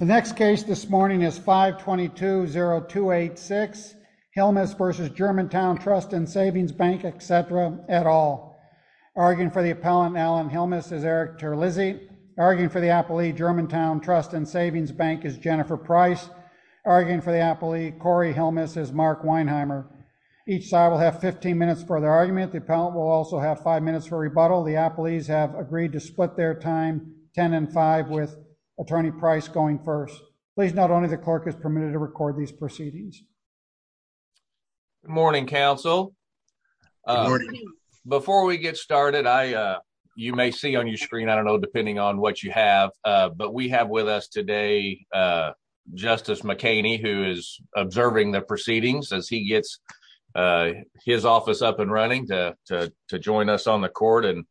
The next case this morning is 522.0286, Hilmes v. Germantown Trust and Savings Bank, etc. et al. Arguing for the appellant, Alan Hilmes, is Eric Terlizzi. Arguing for the appellee, Germantown Trust and Savings Bank, is Jennifer Price. Arguing for the appellee, Corey Hilmes, is Mark Weinheimer. Each side will have 15 minutes for their argument. The appellant will also have 5 minutes for rebuttal. The appellees have agreed to split their time, 10 and 5, with Attorney Price going first. Please note, only the clerk is permitted to record these proceedings. Good morning, counsel. Good morning. Before we get started, you may see on your screen, I don't know, depending on what you have, but we have with us today Justice McHaney, who is observing the proceedings as he gets his office up and running to join us on the court. And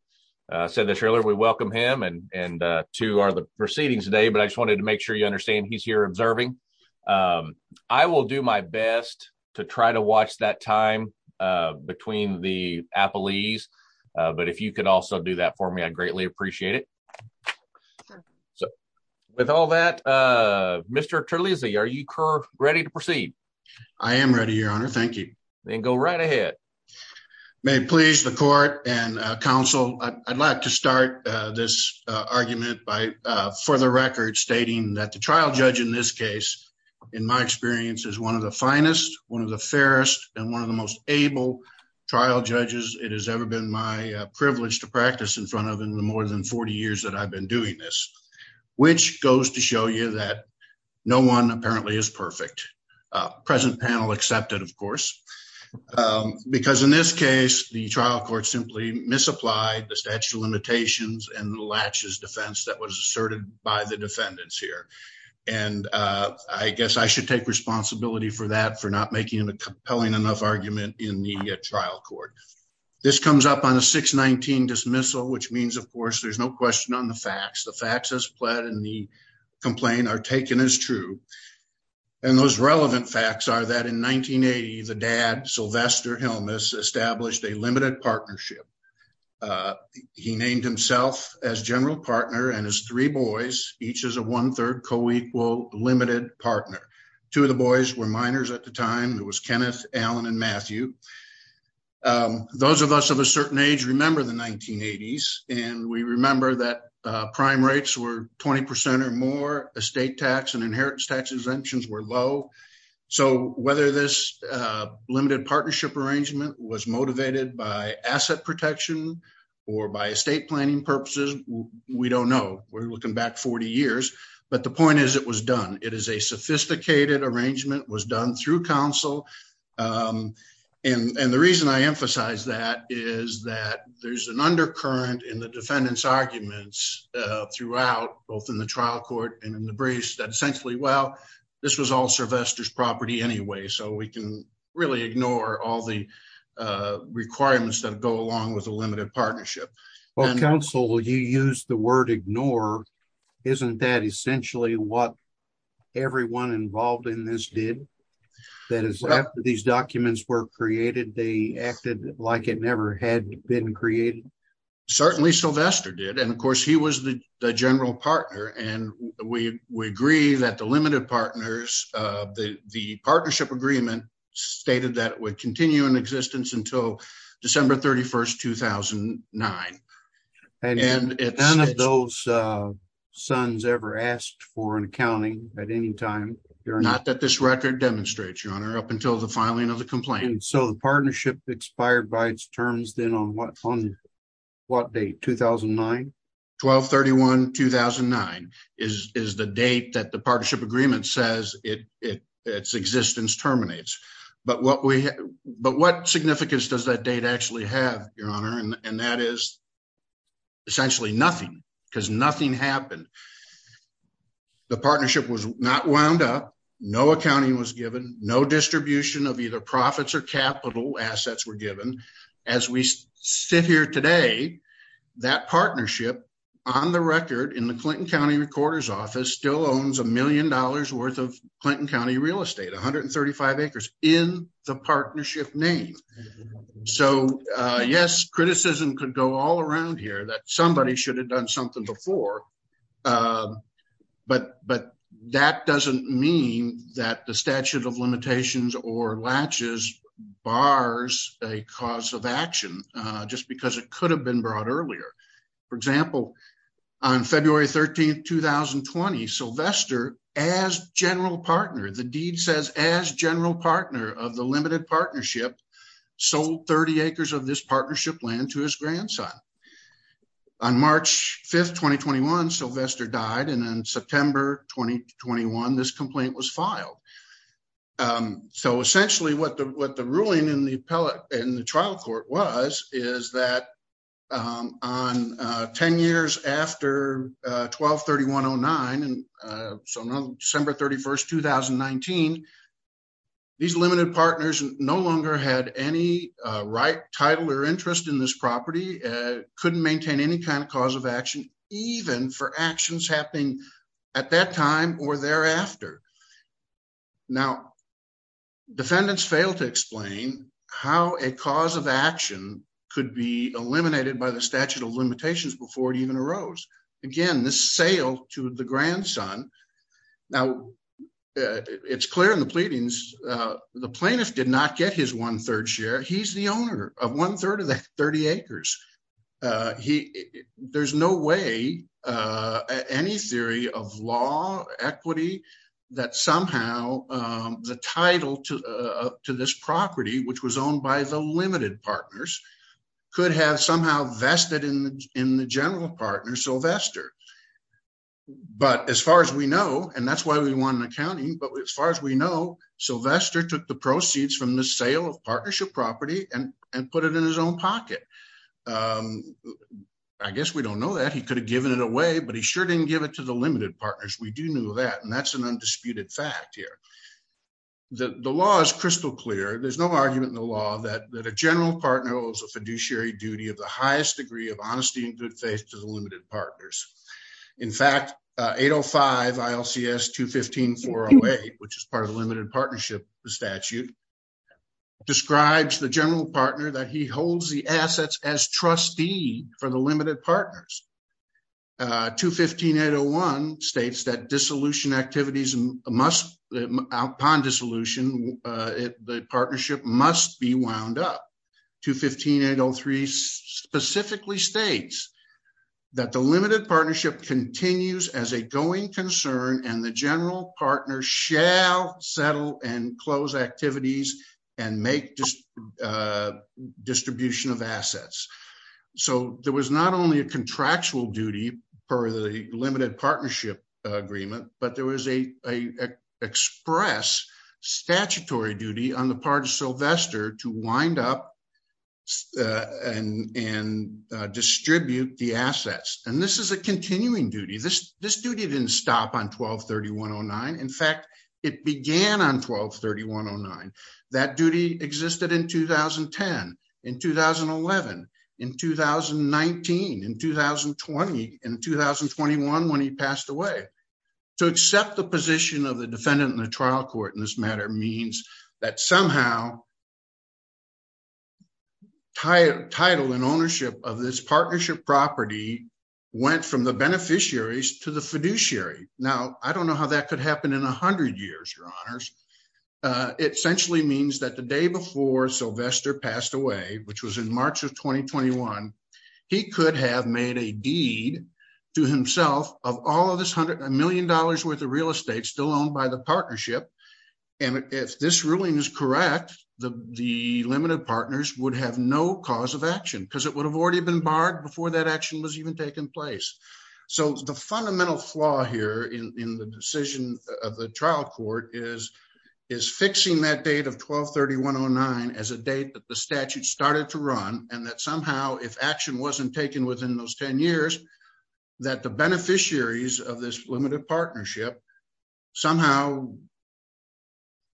I said this earlier, we welcome him, and to our proceedings today, but I just wanted to make sure you understand, he's here observing. I will do my best to try to watch that time between the appellees, but if you could also do that for me, I'd greatly appreciate it. So, with all that, Mr. Terlizzi, are you ready to proceed? I am ready, Your Honor. Thank you. Then go right ahead. May it please the court and counsel, I'd like to start this argument by, for the record, stating that the trial judge in this case, in my experience, is one of the finest, one of the fairest, and one of the most able trial judges it has ever been my privilege to practice in front of in the more than 40 years that I've been doing this, which goes to show you that no one apparently is perfect. Present panel accepted, of course, because in this case, the trial court simply misapplied the statute of limitations and the laches defense that was asserted by the defendants here. And I guess I should take responsibility for that, for not making a compelling enough argument in the trial court. This comes up on a 619 dismissal, which means, of course, there's no question on the facts. The facts as pled and the complaint are taken as true. And those relevant facts are that in 1980, the dad, Sylvester Hilmes, established a limited partnership. He named himself as general partner and his three boys, each as a one third co-equal limited partner. Two of the boys were minors at the time. It was Kenneth, Alan and Matthew. Those of us of a certain age remember the 1980s and we remember that prime rates were 20 percent or more estate tax and inheritance tax exemptions were low. So whether this limited partnership arrangement was motivated by asset protection or by estate planning purposes, we don't know. We're looking back 40 years. But the point is, it was done. It is a sophisticated arrangement was done through counsel. And the reason I emphasize that is that there's an undercurrent in the defendant's arguments throughout both in the trial court and in the briefs that essentially, well, this was all Sylvester's property anyway. So we can really ignore all the requirements that go along with a limited partnership. Well, counsel, you use the word ignore, isn't that essentially what everyone involved in this did that is these documents were created? They acted like it never had been created. Certainly, Sylvester did. And of course, he was the general partner. And we agree that the limited partners, the partnership agreement stated that it would continue in existence until December 31st, 2009. And it's none of those sons ever asked for an accounting at any time. You're not that this record demonstrates your honor up until the filing of the complaint. So the partnership expired by its terms then on what on what date? 2009, 1231, 2009 is the date that the partnership agreement says its existence terminates. But what we but what significance does that date actually have, your honor? And that is. Essentially nothing, because nothing happened, the partnership was not wound up, no accounting was given, no distribution of either profits or capital assets were given as we sit here today. That partnership on the record in the Clinton County recorder's office still owns a million dollars worth of Clinton County real estate, 135 acres in the partnership name. So, yes, criticism could go all around here that somebody should have done something before. But but that doesn't mean that the statute of limitations or latches bars a cause of action just because it could have been brought earlier. For example, on February 13th, 2020, Sylvester, as general partner, the deed says, as general partner of the limited partnership, sold 30 acres of this partnership land to his grandson. On March 5th, 2021, Sylvester died and then September 2021, this complaint was filed. So essentially what the what the ruling in the appellate and the trial court was is that on 10 years after 123109 and December 31st, 2019. These limited partners no longer had any right title or interest in this property couldn't maintain any kind of cause of action, even for actions happening at that time or thereafter. Now, defendants failed to explain how a cause of action could be eliminated by the statute of limitations before it even arose. Again, this sale to the grandson. Now, it's clear in the pleadings, the plaintiff did not get his one third share. He's the owner of one third of the 30 acres. He there's no way any theory of law equity that somehow the title to this property, which was owned by the limited partners could have somehow vested in in the general partner Sylvester. But as far as we know, and that's why we want an accounting. But as far as we know, Sylvester took the proceeds from the sale of partnership property and and put it in his own pocket. I guess we don't know that he could have given it away, but he sure didn't give it to the limited partners. We do know that. And that's an undisputed fact here. The law is crystal clear. There's no argument in the law that that a general partner was a fiduciary duty of the highest degree of honesty and good faith to the limited partners. In fact, 805 ILCS 215408, which is part of the limited partnership statute. Describes the general partner that he holds the assets as trustee for the limited partners. 215801 states that dissolution activities must upon dissolution the partnership must be wound up. 215803 specifically states that the limited partnership continues as a going concern and the general partner shall settle and close activities and make distribution of assets. So there was not only a contractual duty per the limited partnership agreement, but there was a express statutory duty on the part of Sylvester to wind up and distribute the assets. And this is a continuing duty. This duty didn't stop on 12-3109. In fact, it began on 12-3109. That duty existed in 2010, in 2011, in 2019, in 2020, in 2021 when he passed away. To accept the position of the defendant in the trial court in this matter means that somehow title and ownership of this partnership property went from the beneficiaries to the fiduciary. Now, I don't know how that could happen in 100 years, your honors. It essentially means that the day before Sylvester passed away, which was in March of 2021, he could have made a deed to himself of all of this hundred million dollars worth of real estate still owned by the partnership. And if this ruling is correct, the limited partners would have no cause of action because it would have already been barred before that action was even taking place. So the fundamental flaw here in the decision of the trial court is fixing that date of 12-3109 as a date that the statute started to run and that somehow if action wasn't taken within those 10 years, that the beneficiaries of this limited partnership somehow,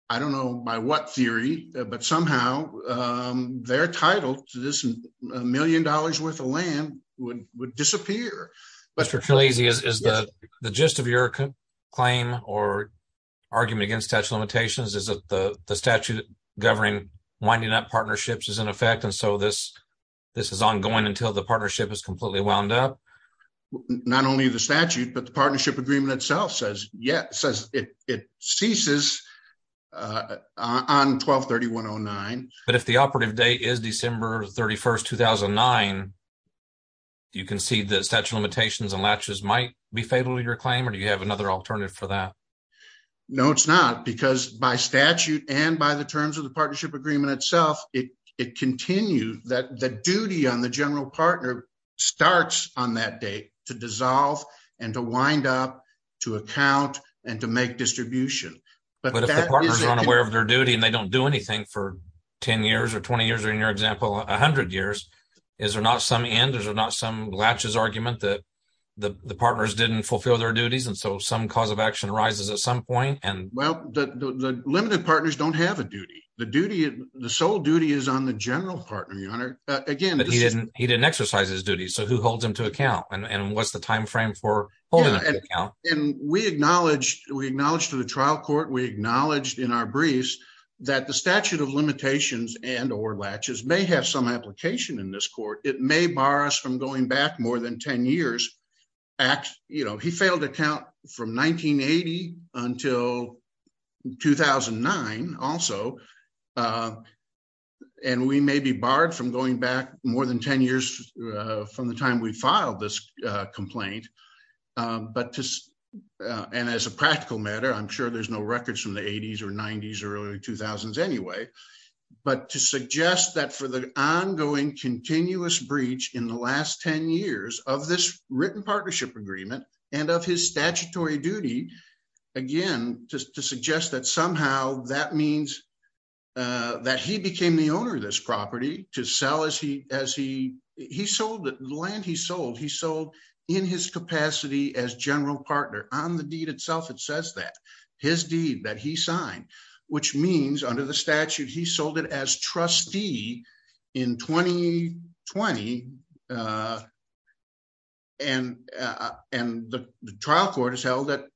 I don't know by what theory, but somehow their title to this million dollars worth of land would disappear. Mr. Tlazy, is the gist of your claim or argument against statute of limitations is that the statute governing winding up partnerships is in effect and so this is ongoing until the partnership is completely wound up? Not only the statute, but the partnership agreement itself says it ceases on 12-3109. But if the operative date is December 31st, 2009, do you concede that statute of limitations and latches might be favorable to your claim or do you have another alternative for that? No, it's not because by statute and by the terms of the partnership agreement itself, it continued that the duty on the general partner starts on that date to dissolve and to wind up to account and to make distribution. But if the partners aren't aware of their duty and they don't do anything for 10 years or 20 years, or in your example, 100 years, is there not some end, is there not some latches argument that the partners didn't fulfill their duties and so some cause of action arises at some point? Well, the limited partners don't have a duty. The sole duty is on the general partner, your honor. But he didn't exercise his duty, so who holds him to account? And what's the time frame for holding him to account? And we acknowledged, we acknowledged to the trial court, we acknowledged in our briefs that the statute of limitations and or latches may have some application in this court. It may bar us from going back more than 10 years. He failed to count from 1980 until 2009 also, and we may be barred from going back more than 10 years from the time we filed this complaint. And as a practical matter, I'm sure there's no records from the 80s or 90s or early 2000s anyway, but to suggest that for the ongoing continuous breach in the last 10 years of this written partnership agreement and of his statutory duty, again, just to suggest that somehow that means that he became the owner of this property to sell as he, as he, he sold the land he sold, he sold in his capacity as general partner on the deed itself. It says that his deed that he signed, which means under the statute, he sold it as trustee in 2020. And, and the trial court has held that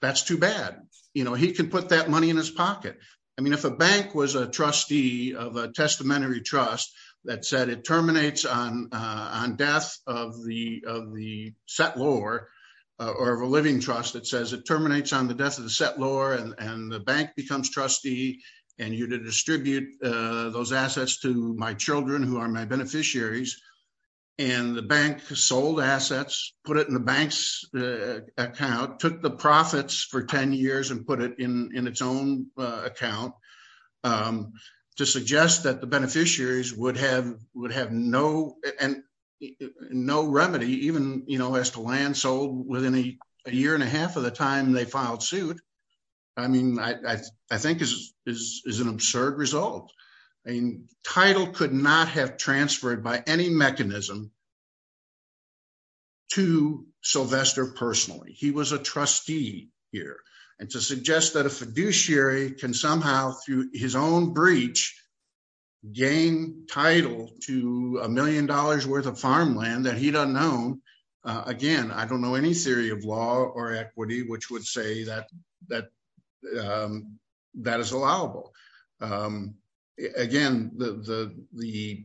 that's too bad. You know, he can put that money in his pocket. I mean, if a bank was a trustee of a testamentary trust that said it terminates on, on death of the, of the set lore or of a living trust, it says it terminates on the death of the set lore and the bank becomes trustee and you to distribute those assets to my children who are my beneficiaries. And the bank sold assets, put it in the bank's account, took the profits for 10 years and put it in its own account to suggest that the beneficiaries would have, would have no, no remedy, even, you know, as to land sold within a year and a half of the time they filed suit. I mean, I, I, I think is, is, is an absurd result. I mean, title could not have transferred by any mechanism to Sylvester personally. He was a trustee here and to suggest that a fiduciary can somehow through his own breach gain title to a million dollars worth of farmland that he doesn't know. Again, I don't know any theory of law or equity, which would say that, that, that is allowable. Again, the, the, the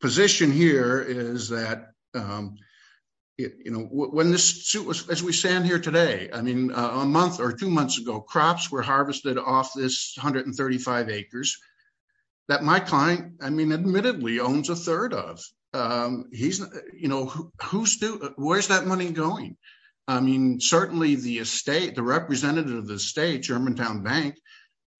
position here is that, you know, when this suit was, as we stand here today, I mean, a month or two months ago, crops were harvested off this 135 acres that my client, I mean, admittedly owns a third of. He's, you know, who's, where's that money going? I mean, certainly the estate, the representative of the state, Germantown bank.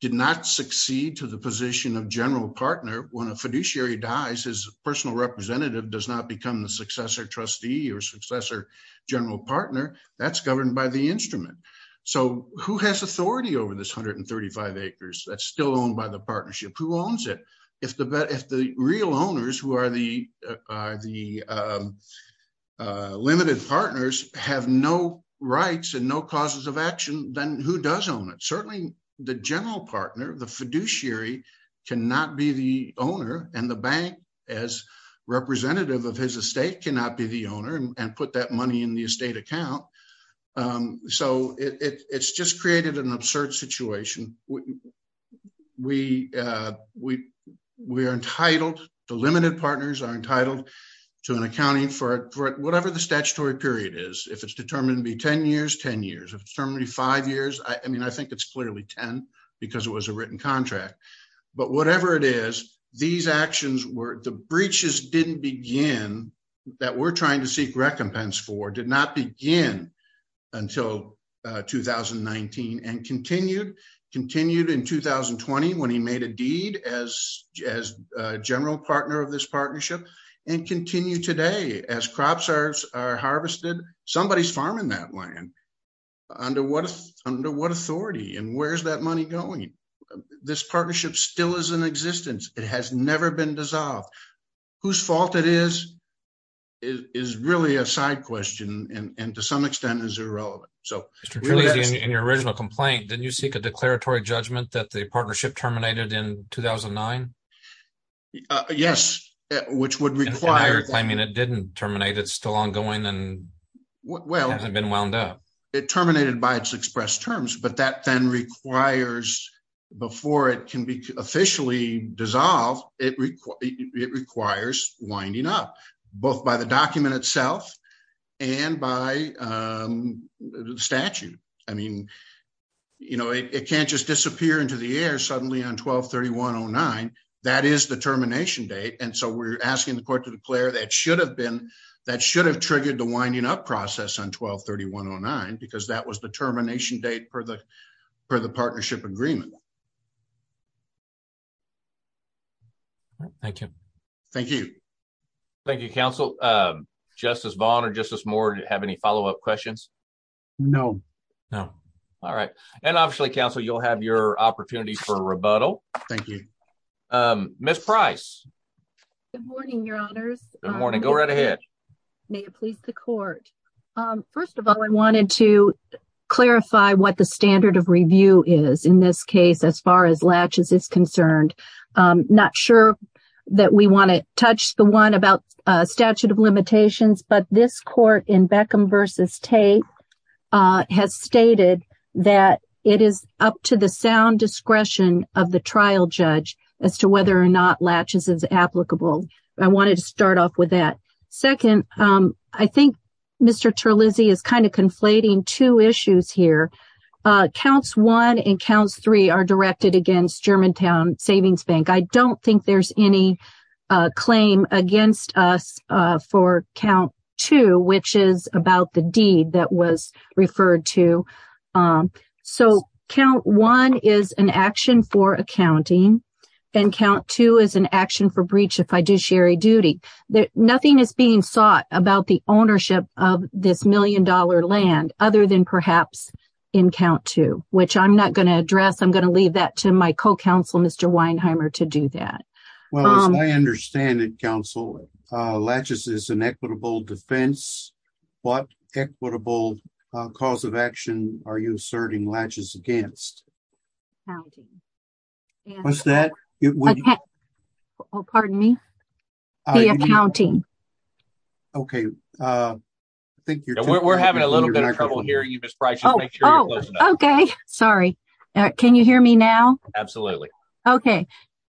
Did not succeed to the position of general partner when a fiduciary dies, his personal representative does not become the successor trustee or successor general partner that's governed by the instrument. So, who has authority over this 135 acres that's still owned by the partnership who owns it? If the, if the real owners who are the, the limited partners have no rights and no causes of action, then who does own it? Certainly the general partner, the fiduciary cannot be the owner and the bank as representative of his estate cannot be the owner and put that money in the estate account. So it's just created an absurd situation. We, we, we are entitled to limited partners are entitled to an accounting for whatever the statutory period is, if it's determined to be 10 years, 10 years, if it's determined to be five years, I mean, I think it's clearly 10 because it was a written contract. But whatever it is, these actions were, the breaches didn't begin that we're trying to seek recompense for did not begin until 2019 and continued, continued in 2020 when he made a deed as, as a general partner of this partnership and continue today as crops are harvested, somebody's farming that land. Under what, under what authority and where's that money going? This partnership still is in existence. It has never been dissolved. Whose fault it is, is really a side question and to some extent is irrelevant. So, in your original complaint, didn't you seek a declaratory judgment that the partnership terminated in 2009? Yes, which would require, I mean, it didn't terminate it's still ongoing and well, it hasn't been wound up it terminated by its express terms, but that then requires before it can be officially dissolve it requires winding up both by the document itself and by the statute. I mean, you know, it can't just disappear into the air suddenly on 123109 that is the termination date and so we're asking the court to declare that should have been that should have triggered the winding up process on 123109 because that was the termination date for the for the partnership agreement. Thank you. Thank you. Thank you, counsel. Justice Vaughn or justice more to have any follow up questions. No, no. All right. And obviously counsel, you'll have your opportunity for rebuttal. Thank you. Miss price. Good morning, your honors. Good morning. Go right ahead. May it please the court. First of all, I wanted to clarify what the standard of review is in this case as far as latches is concerned. Not sure that we want to touch the one about statute of has stated that it is up to the sound discretion of the trial judge as to whether or not latches is applicable. I wanted to start off with that. Second, I think Mr. Terlizzi is kind of conflating two issues here. Counts one and counts three are directed against Germantown Savings Bank. I don't think there's any claim against us for count two, which is about the deed that was referred to. So count one is an action for accounting and count two is an action for breach of fiduciary duty that nothing is being sought about the ownership of this million dollar land other than perhaps in count two, which I'm not going to address. I'm going to leave that to my co-counsel, Mr. Weinheimer, to do that. Well, as I understand it, counsel, latches is an equitable defense. What equitable cause of action are you asserting latches against? Accounting. What's that? Oh, pardon me? The accounting. Okay. We're having a little bit of trouble Miss Price. Okay. Sorry. Can you hear me now? Absolutely. Okay.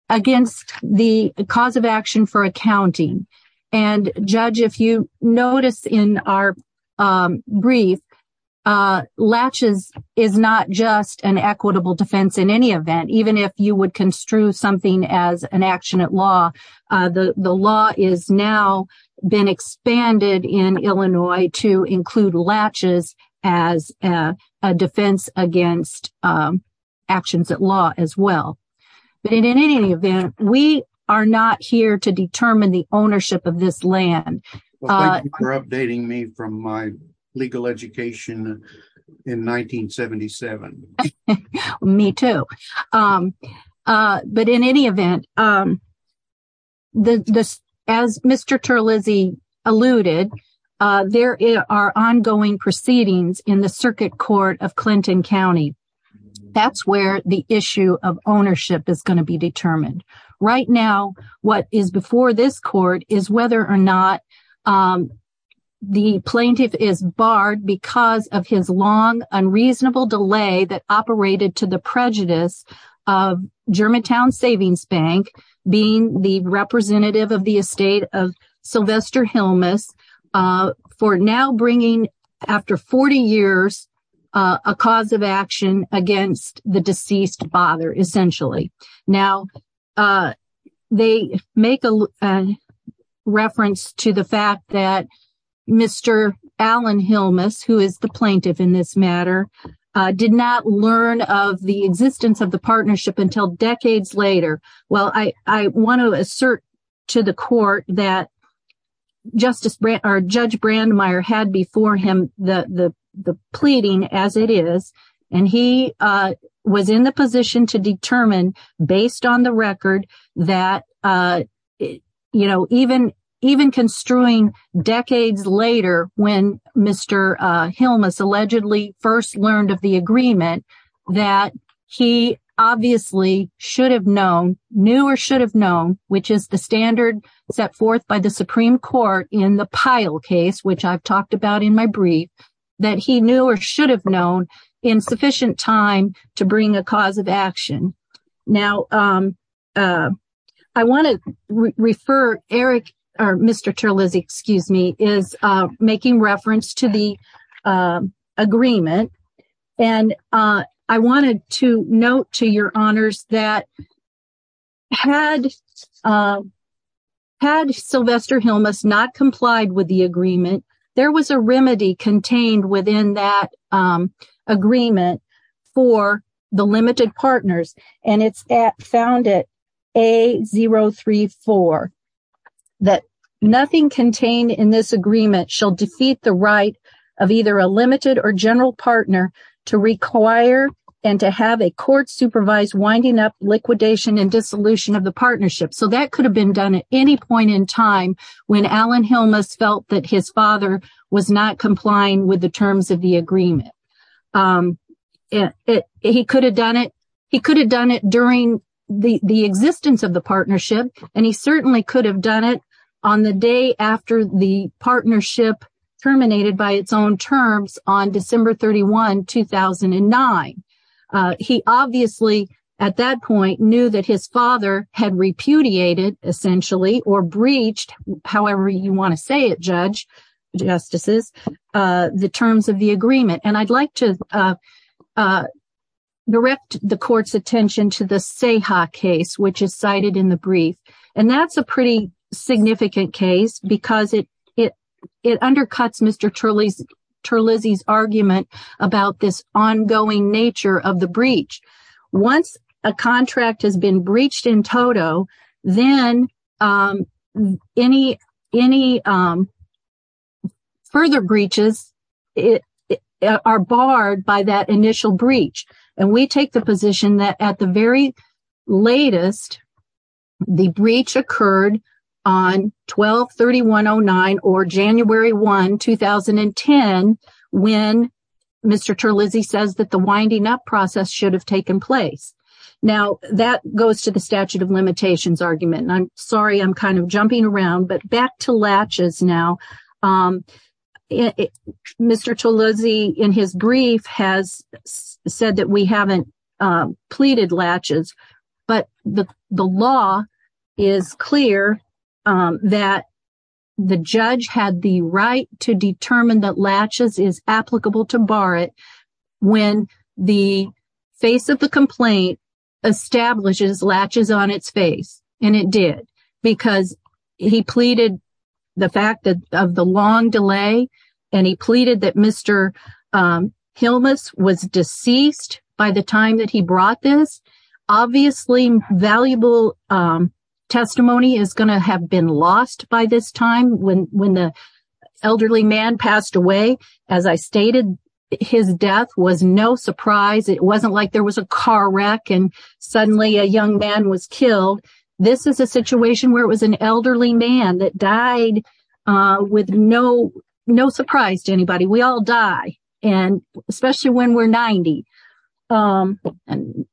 Against the cause of action for accounting and judge, if you notice in our brief, latches is not just an equitable defense in any event, even if you would construe something as an action at law. The law is now been expanded in Illinois to include latches as a defense against actions at law as well. But in any event, we are not here to determine the ownership of this land. You're updating me from my legal education in 1977. Me too. But in any event, as Mr. Terlizzi alluded, there are ongoing proceedings in the circuit court of Clinton County. That's where the issue of ownership is going to be determined. Right now, what is before this court is whether or not the plaintiff is barred because of his long, unreasonable delay that operated to the prejudice of Germantown Savings Bank being the representative of the estate of Sylvester Hilmes for now bringing, after 40 years, a cause of action against the deceased father, essentially. Now, they make a reference to the fact that Mr. Alan Hilmes, who is the plaintiff in this matter, did not learn of the existence of the partnership until decades later. Well, I want to assert to the court that Judge Brandmeier had before him the pleading as it is, and he was in the position to determine, based on the record, that even construing decades later when Mr. Hilmes allegedly first learned of the agreement, that he obviously should have known, knew or should have known, which is the standard set forth by the Supreme Court in the Pyle case, which I've talked about in my brief, that he or she should have known in sufficient time to bring a cause of action. Now, I want to refer, Eric, or Mr. Terlizzi, excuse me, is making reference to the agreement, and I wanted to note to your honors that had Sylvester Hilmes not complied with the agreement, there was a remedy contained within that agreement for the limited partners, and it's found at A034, that nothing contained in this agreement shall defeat the right of either a limited or general partner to require and to have a court supervise winding up liquidation and dissolution of the partnership. So, that could have been done at any point in time when Alan Hilmes felt that his father was not complying with the terms of the agreement. He could have done it during the existence of the partnership, and he certainly could have done it on the day after the partnership terminated by its own terms on December 31, 2009. He obviously, at that point, knew that his father had repudiated, essentially, or breached, however you want to say it, judge, justices, the terms of the agreement, and I'd like to direct the court's attention to the Seha case, which is cited in the brief, and that's a pretty significant case because it undercuts Mr. the breach. Once a contract has been breached in total, then any further breaches are barred by that initial breach, and we take the position that at the very latest, the breach occurred on 12-31-09, or January 1, 2010, when Mr. Terlizzi says that the winding up process should have taken place. Now, that goes to the statute of limitations argument, and I'm sorry I'm kind of jumping around, but back to latches now. Mr. Terlizzi, in his brief, has said that we haven't pleaded latches, but the law is clear that the judge had the right to determine that latches is applicable to bar it when the face of the complaint establishes latches on its face, and it did, because he pleaded the fact of the long delay, and he pleaded that Mr. Hilmes was deceased by the time that he brought this. Obviously, valuable testimony is going to have been lost by this time when the elderly man passed away. As I stated, his death was no surprise. It wasn't like there was a car wreck and suddenly a young man was killed. This is a situation where it was an elderly man that died with no surprise to anybody. We all die, especially when we're 90, and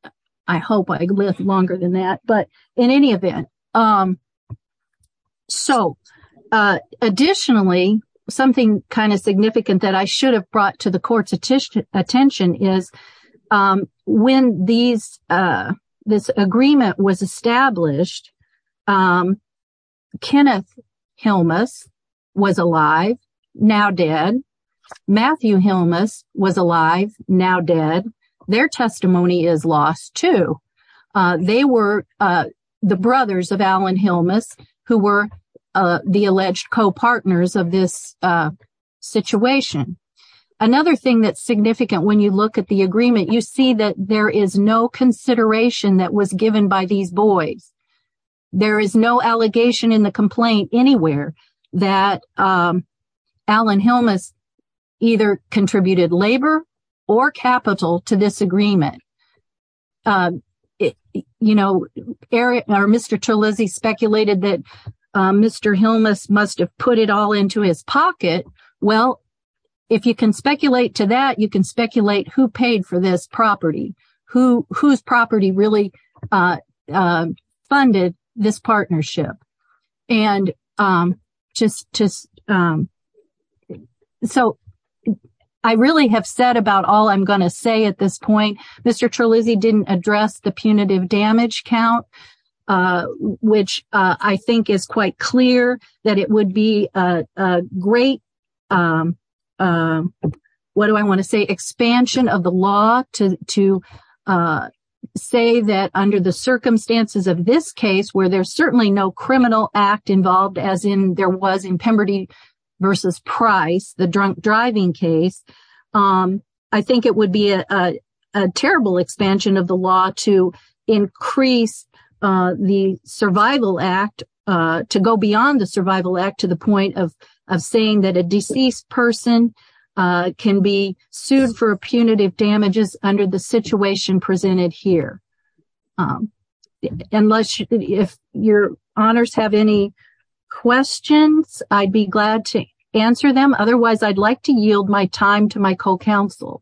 I hope I live longer than that, but in any event. Additionally, something kind of significant that I should have brought to the court's attention is when this agreement was established, Kenneth Hilmes was alive, now dead. Matthew Hilmes was alive, now dead. Their testimony is lost, too. They were the brothers of Alan Hilmes who were the alleged co-partners of this situation. Another thing that's significant when you look at the agreement, you see that there is no consideration that was given by these boys. There is no allegation in the complaint anywhere that Alan Hilmes either contributed labor or capital to this agreement. You know, Mr. Terlizzi speculated that Mr. Hilmes must have put it all into his pocket. Well, if you can speculate to that, you can speculate who paid for this property, whose property really funded this partnership. I really have said about all I'm going to say at this point, Mr. Terlizzi didn't address the punitive damage count, which I think is quite clear that it would be a great, what do I want to say, expansion of the law to say that under the circumstances of this case, where there's certainly no criminal act involved as in there was in Pemberty v. Price, the drunk driving case, I think it would be a increase to go beyond the survival act to the point of saying that a deceased person can be sued for punitive damages under the situation presented here. If your honors have any questions, I'd be glad to answer them. Otherwise, I'd like to yield my time to my co-counsel.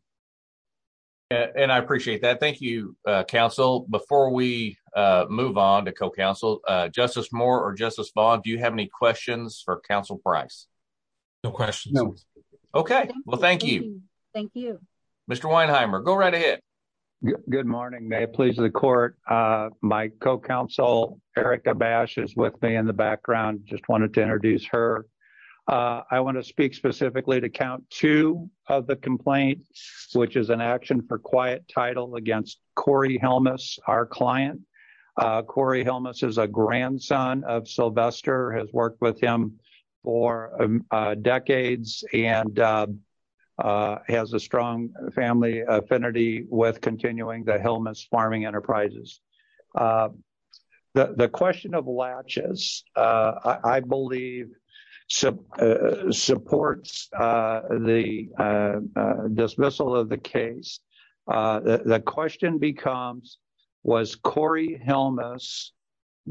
And I appreciate that. Thank you, counsel. Before we move on to co-counsel, Justice Moore or Justice Vaughn, do you have any questions for counsel Price? No questions. Okay. Well, thank you. Thank you. Mr. Weinheimer, go right ahead. Good morning. May it please the court. My co-counsel, Erica Bash is with me in the background. Just wanted to introduce her. I want to speak specifically to count two of the complaint, which is an action for quiet title against Corey Helmus, our client. Corey Helmus is a grandson of Sylvester, has worked with him for decades and has a strong family affinity with continuing the Helmus farming enterprises. The question of latches, I believe, supports the dismissal of the case. The question becomes, was Corey Helmus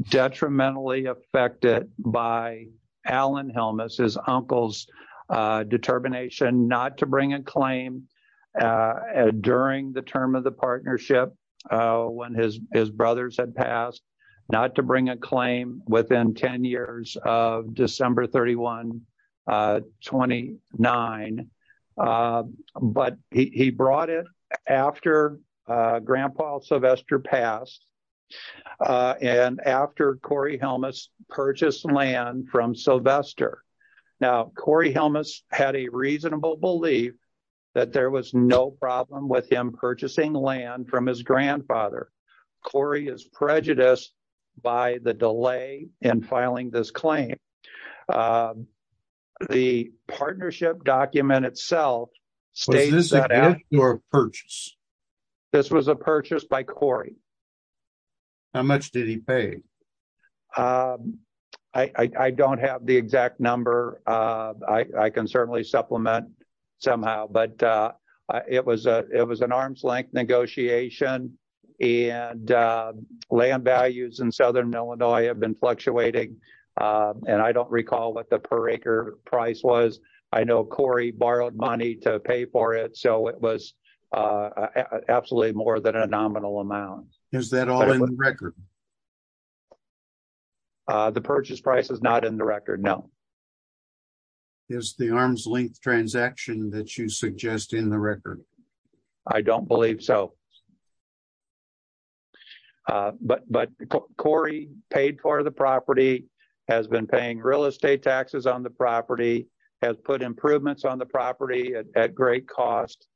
detrimentally affected by Alan Helmus, his uncle's determination not to bring a claim during the term of the partnership when his brothers had passed, not to bring a claim within 10 years of December 31, 29. But he brought it after Grandpa Sylvester passed. And after Corey Helmus purchased land from Sylvester. Now, Corey Helmus had a reasonable belief that there was no problem with him purchasing land from his grandfather. Corey is prejudiced by the delay in filing this claim. The partnership document itself states that your purchase. This was a purchase by Corey. How much did he pay? I don't have the exact number. I can certainly supplement somehow, but it was an arm's length negotiation and land values in Southern Illinois have been fluctuating. And I don't recall what the per acre price was. I know Corey borrowed money to pay for it. So it was absolutely more than a nominal amount. Is that all in the record? The purchase price is not in the record. No. Is the arm's length transaction that you suggest in the record? I don't believe so. But Corey paid for the property, has been paying real estate taxes on the property, has put improvements on the property at great cost.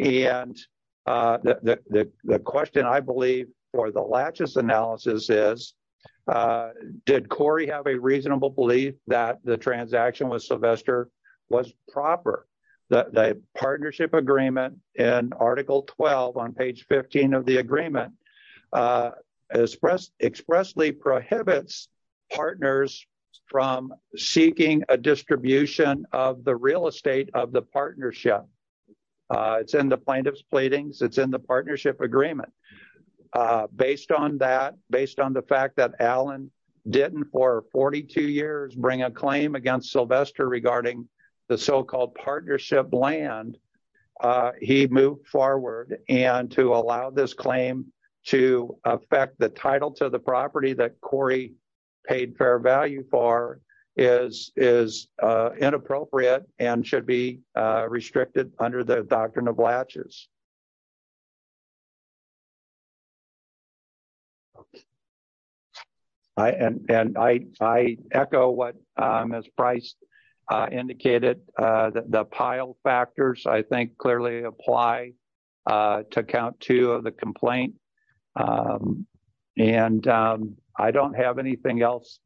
And the question, I believe, for the latches analysis is, did Corey have a reasonable belief that the transaction with Sylvester was proper? The partnership agreement in Article 12 on page 15 of the distribution of the real estate of the partnership. It's in the plaintiff's pleadings. It's in the partnership agreement. Based on that, based on the fact that Allen didn't for 42 years bring a claim against Sylvester regarding the so-called partnership land, he moved forward. And to allow this claim to affect the title to the property that Corey paid fair value for is inappropriate and should be restricted under the doctrine of latches. And I echo what Ms. Price indicated. The pile factors, I think, clearly apply to count two of the complaint. And I don't have anything else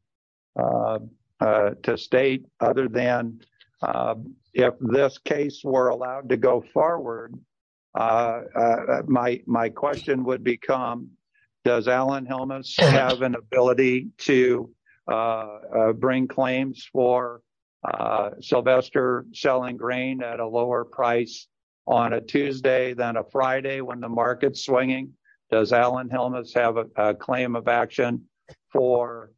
to state other than if this case were allowed to go forward, my question would become, does Alan Helmuth have an ability to bring claims for Sylvester selling grain at a lower price on a Tuesday than a Friday when the market's swinging? Does Alan Helmuth have a claim of action for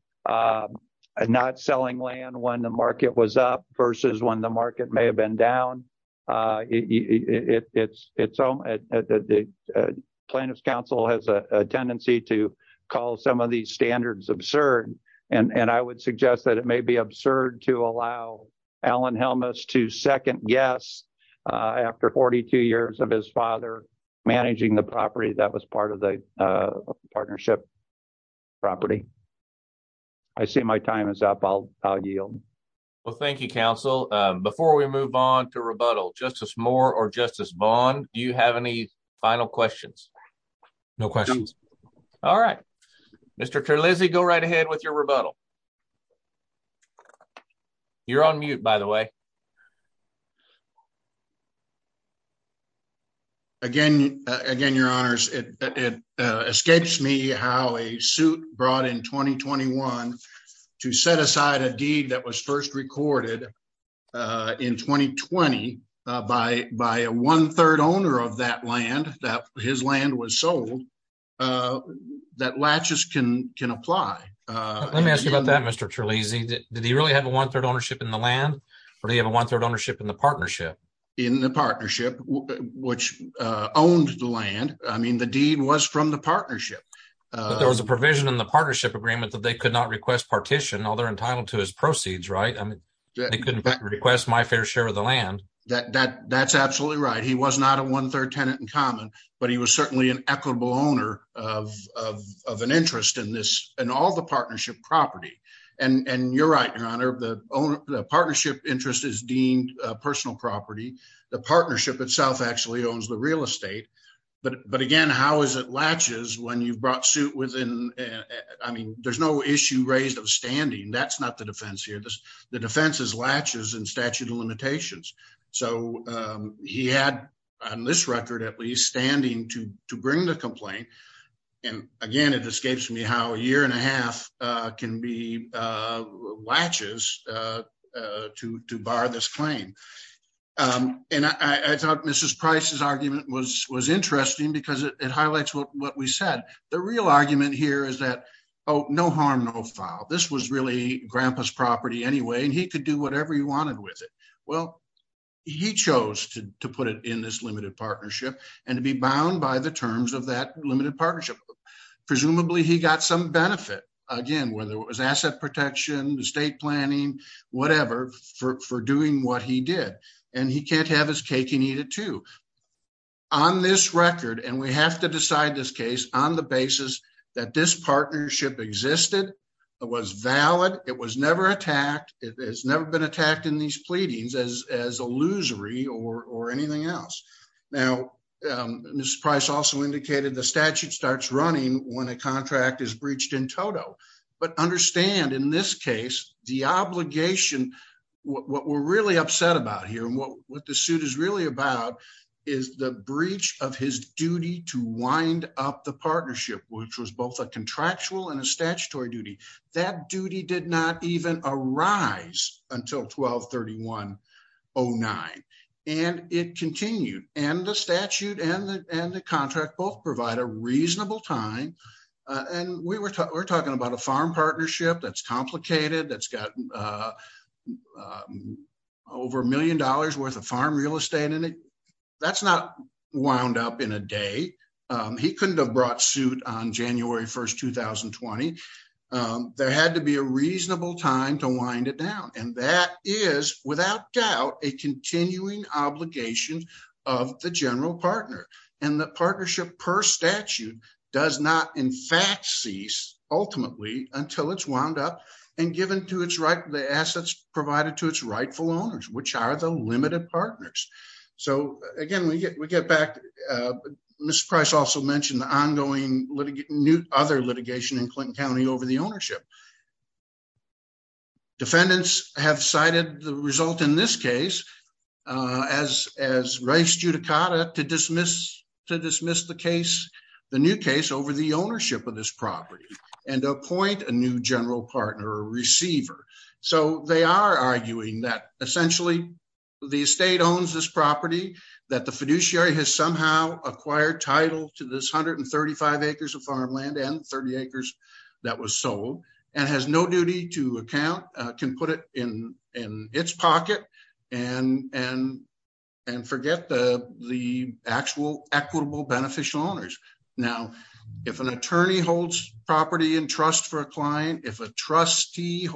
not selling land when the market was up versus when the market may have been down? Plaintiff's counsel has a tendency to call some of these standards absurd. And I would suggest that may be absurd to allow Alan Helmuth to second guess after 42 years of his father managing the property that was part of the partnership property. I see my time is up. I'll yield. Well, thank you, counsel. Before we move on to rebuttal, Justice Moore or Justice Vaughn, do you have any final questions? No questions. All right. Mr. Terlizzi, go right ahead with your rebuttal. You're on mute, by the way. Again, your honors, it escapes me how a suit brought in 2021 to set aside a deed that was Let me ask you about that, Mr. Terlizzi. Did he really have a one-third ownership in the land? Or do you have a one-third ownership in the partnership? In the partnership, which owned the land. I mean, the deed was from the partnership. There was a provision in the partnership agreement that they could not request partition while they're entitled to his proceeds, right? I mean, they couldn't request my fair share of the land. That's absolutely right. He was not a one-third tenant in common, but he was certainly an equitable owner of an interest in all the partnership property. And you're right, your honor, the partnership interest is deemed personal property. The partnership itself actually owns the real estate. But again, how is it latches when you've brought suit within? I mean, there's no issue raised of standing. That's not the defense here. The defense is latches and statute of limitations. So he had on this record, at least standing to bring the complaint. And again, it escapes me how a year and a half can be latches to bar this claim. And I thought Mrs. Price's argument was interesting because it highlights what we said. The real argument here is that, oh, no harm, no foul. This was really grandpa's property anyway. And he could do whatever he wanted with it. Well, he chose to put it in this limited partnership and to be bound by the terms of that limited partnership. Presumably he got some benefit, again, whether it was asset protection, estate planning, whatever for doing what he did. And he can't have his cake and eat it too. On this record, and we have to decide this case on the partnership existed. It was valid. It was never attacked. It has never been attacked in these pleadings as illusory or anything else. Now, Mrs. Price also indicated the statute starts running when a contract is breached in total. But understand in this case, the obligation, what we're really upset about here and what the suit is really about is the breach of his duty to wind up the partnership, which was both a contractual and a statutory duty. That duty did not even arise until 1231-09. And it continued. And the statute and the contract both provide a reasonable time. And we were talking about a farm partnership that's complicated, that's got over a million dollars worth of farm real estate in it. That's not wound up in a day. He couldn't have brought suit on January 1st, 2020. There had to be a reasonable time to wind it down. And that is without doubt a continuing obligation of the general partner. And the partnership per statute does not in fact cease ultimately until it's wound up and given to its right, the assets provided to its rightful owners, which are the limited partners. So again, we get back, Mr. Price also mentioned the ongoing new other litigation in Clinton County over the ownership. Defendants have cited the result in this case as, as rice judicata to dismiss, to dismiss the case, the new case over the ownership of this property and appoint a new general partner or receiver. So they are arguing that essentially the estate owns this property that the fiduciary has somehow acquired title to this 135 acres of farmland and 30 acres that was sold and has no duty to account, can put it in its pocket and forget the actual equitable beneficial owners. Now, if an attorney holds property and trust for a client, if a trustee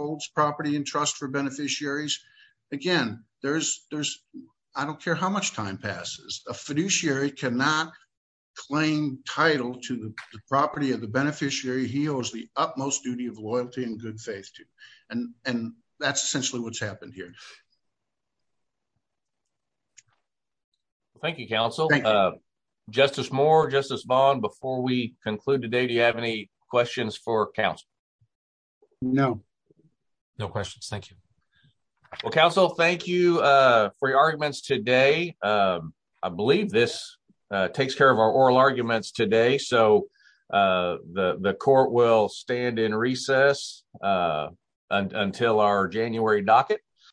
there's, there's, I don't care how much time passes, a fiduciary cannot claim title to the property of the beneficiary he owes the utmost duty of loyalty and good faith to. And, and that's essentially what's happened here. Thank you, counsel. Justice Moore, Justice Vaughn, before we conclude today, do you have any questions for counsel? No, no questions. Thank you. Well, counsel, thank you for your arguments today. I believe this takes care of our oral arguments today. So the court will stand in recess until our January docket.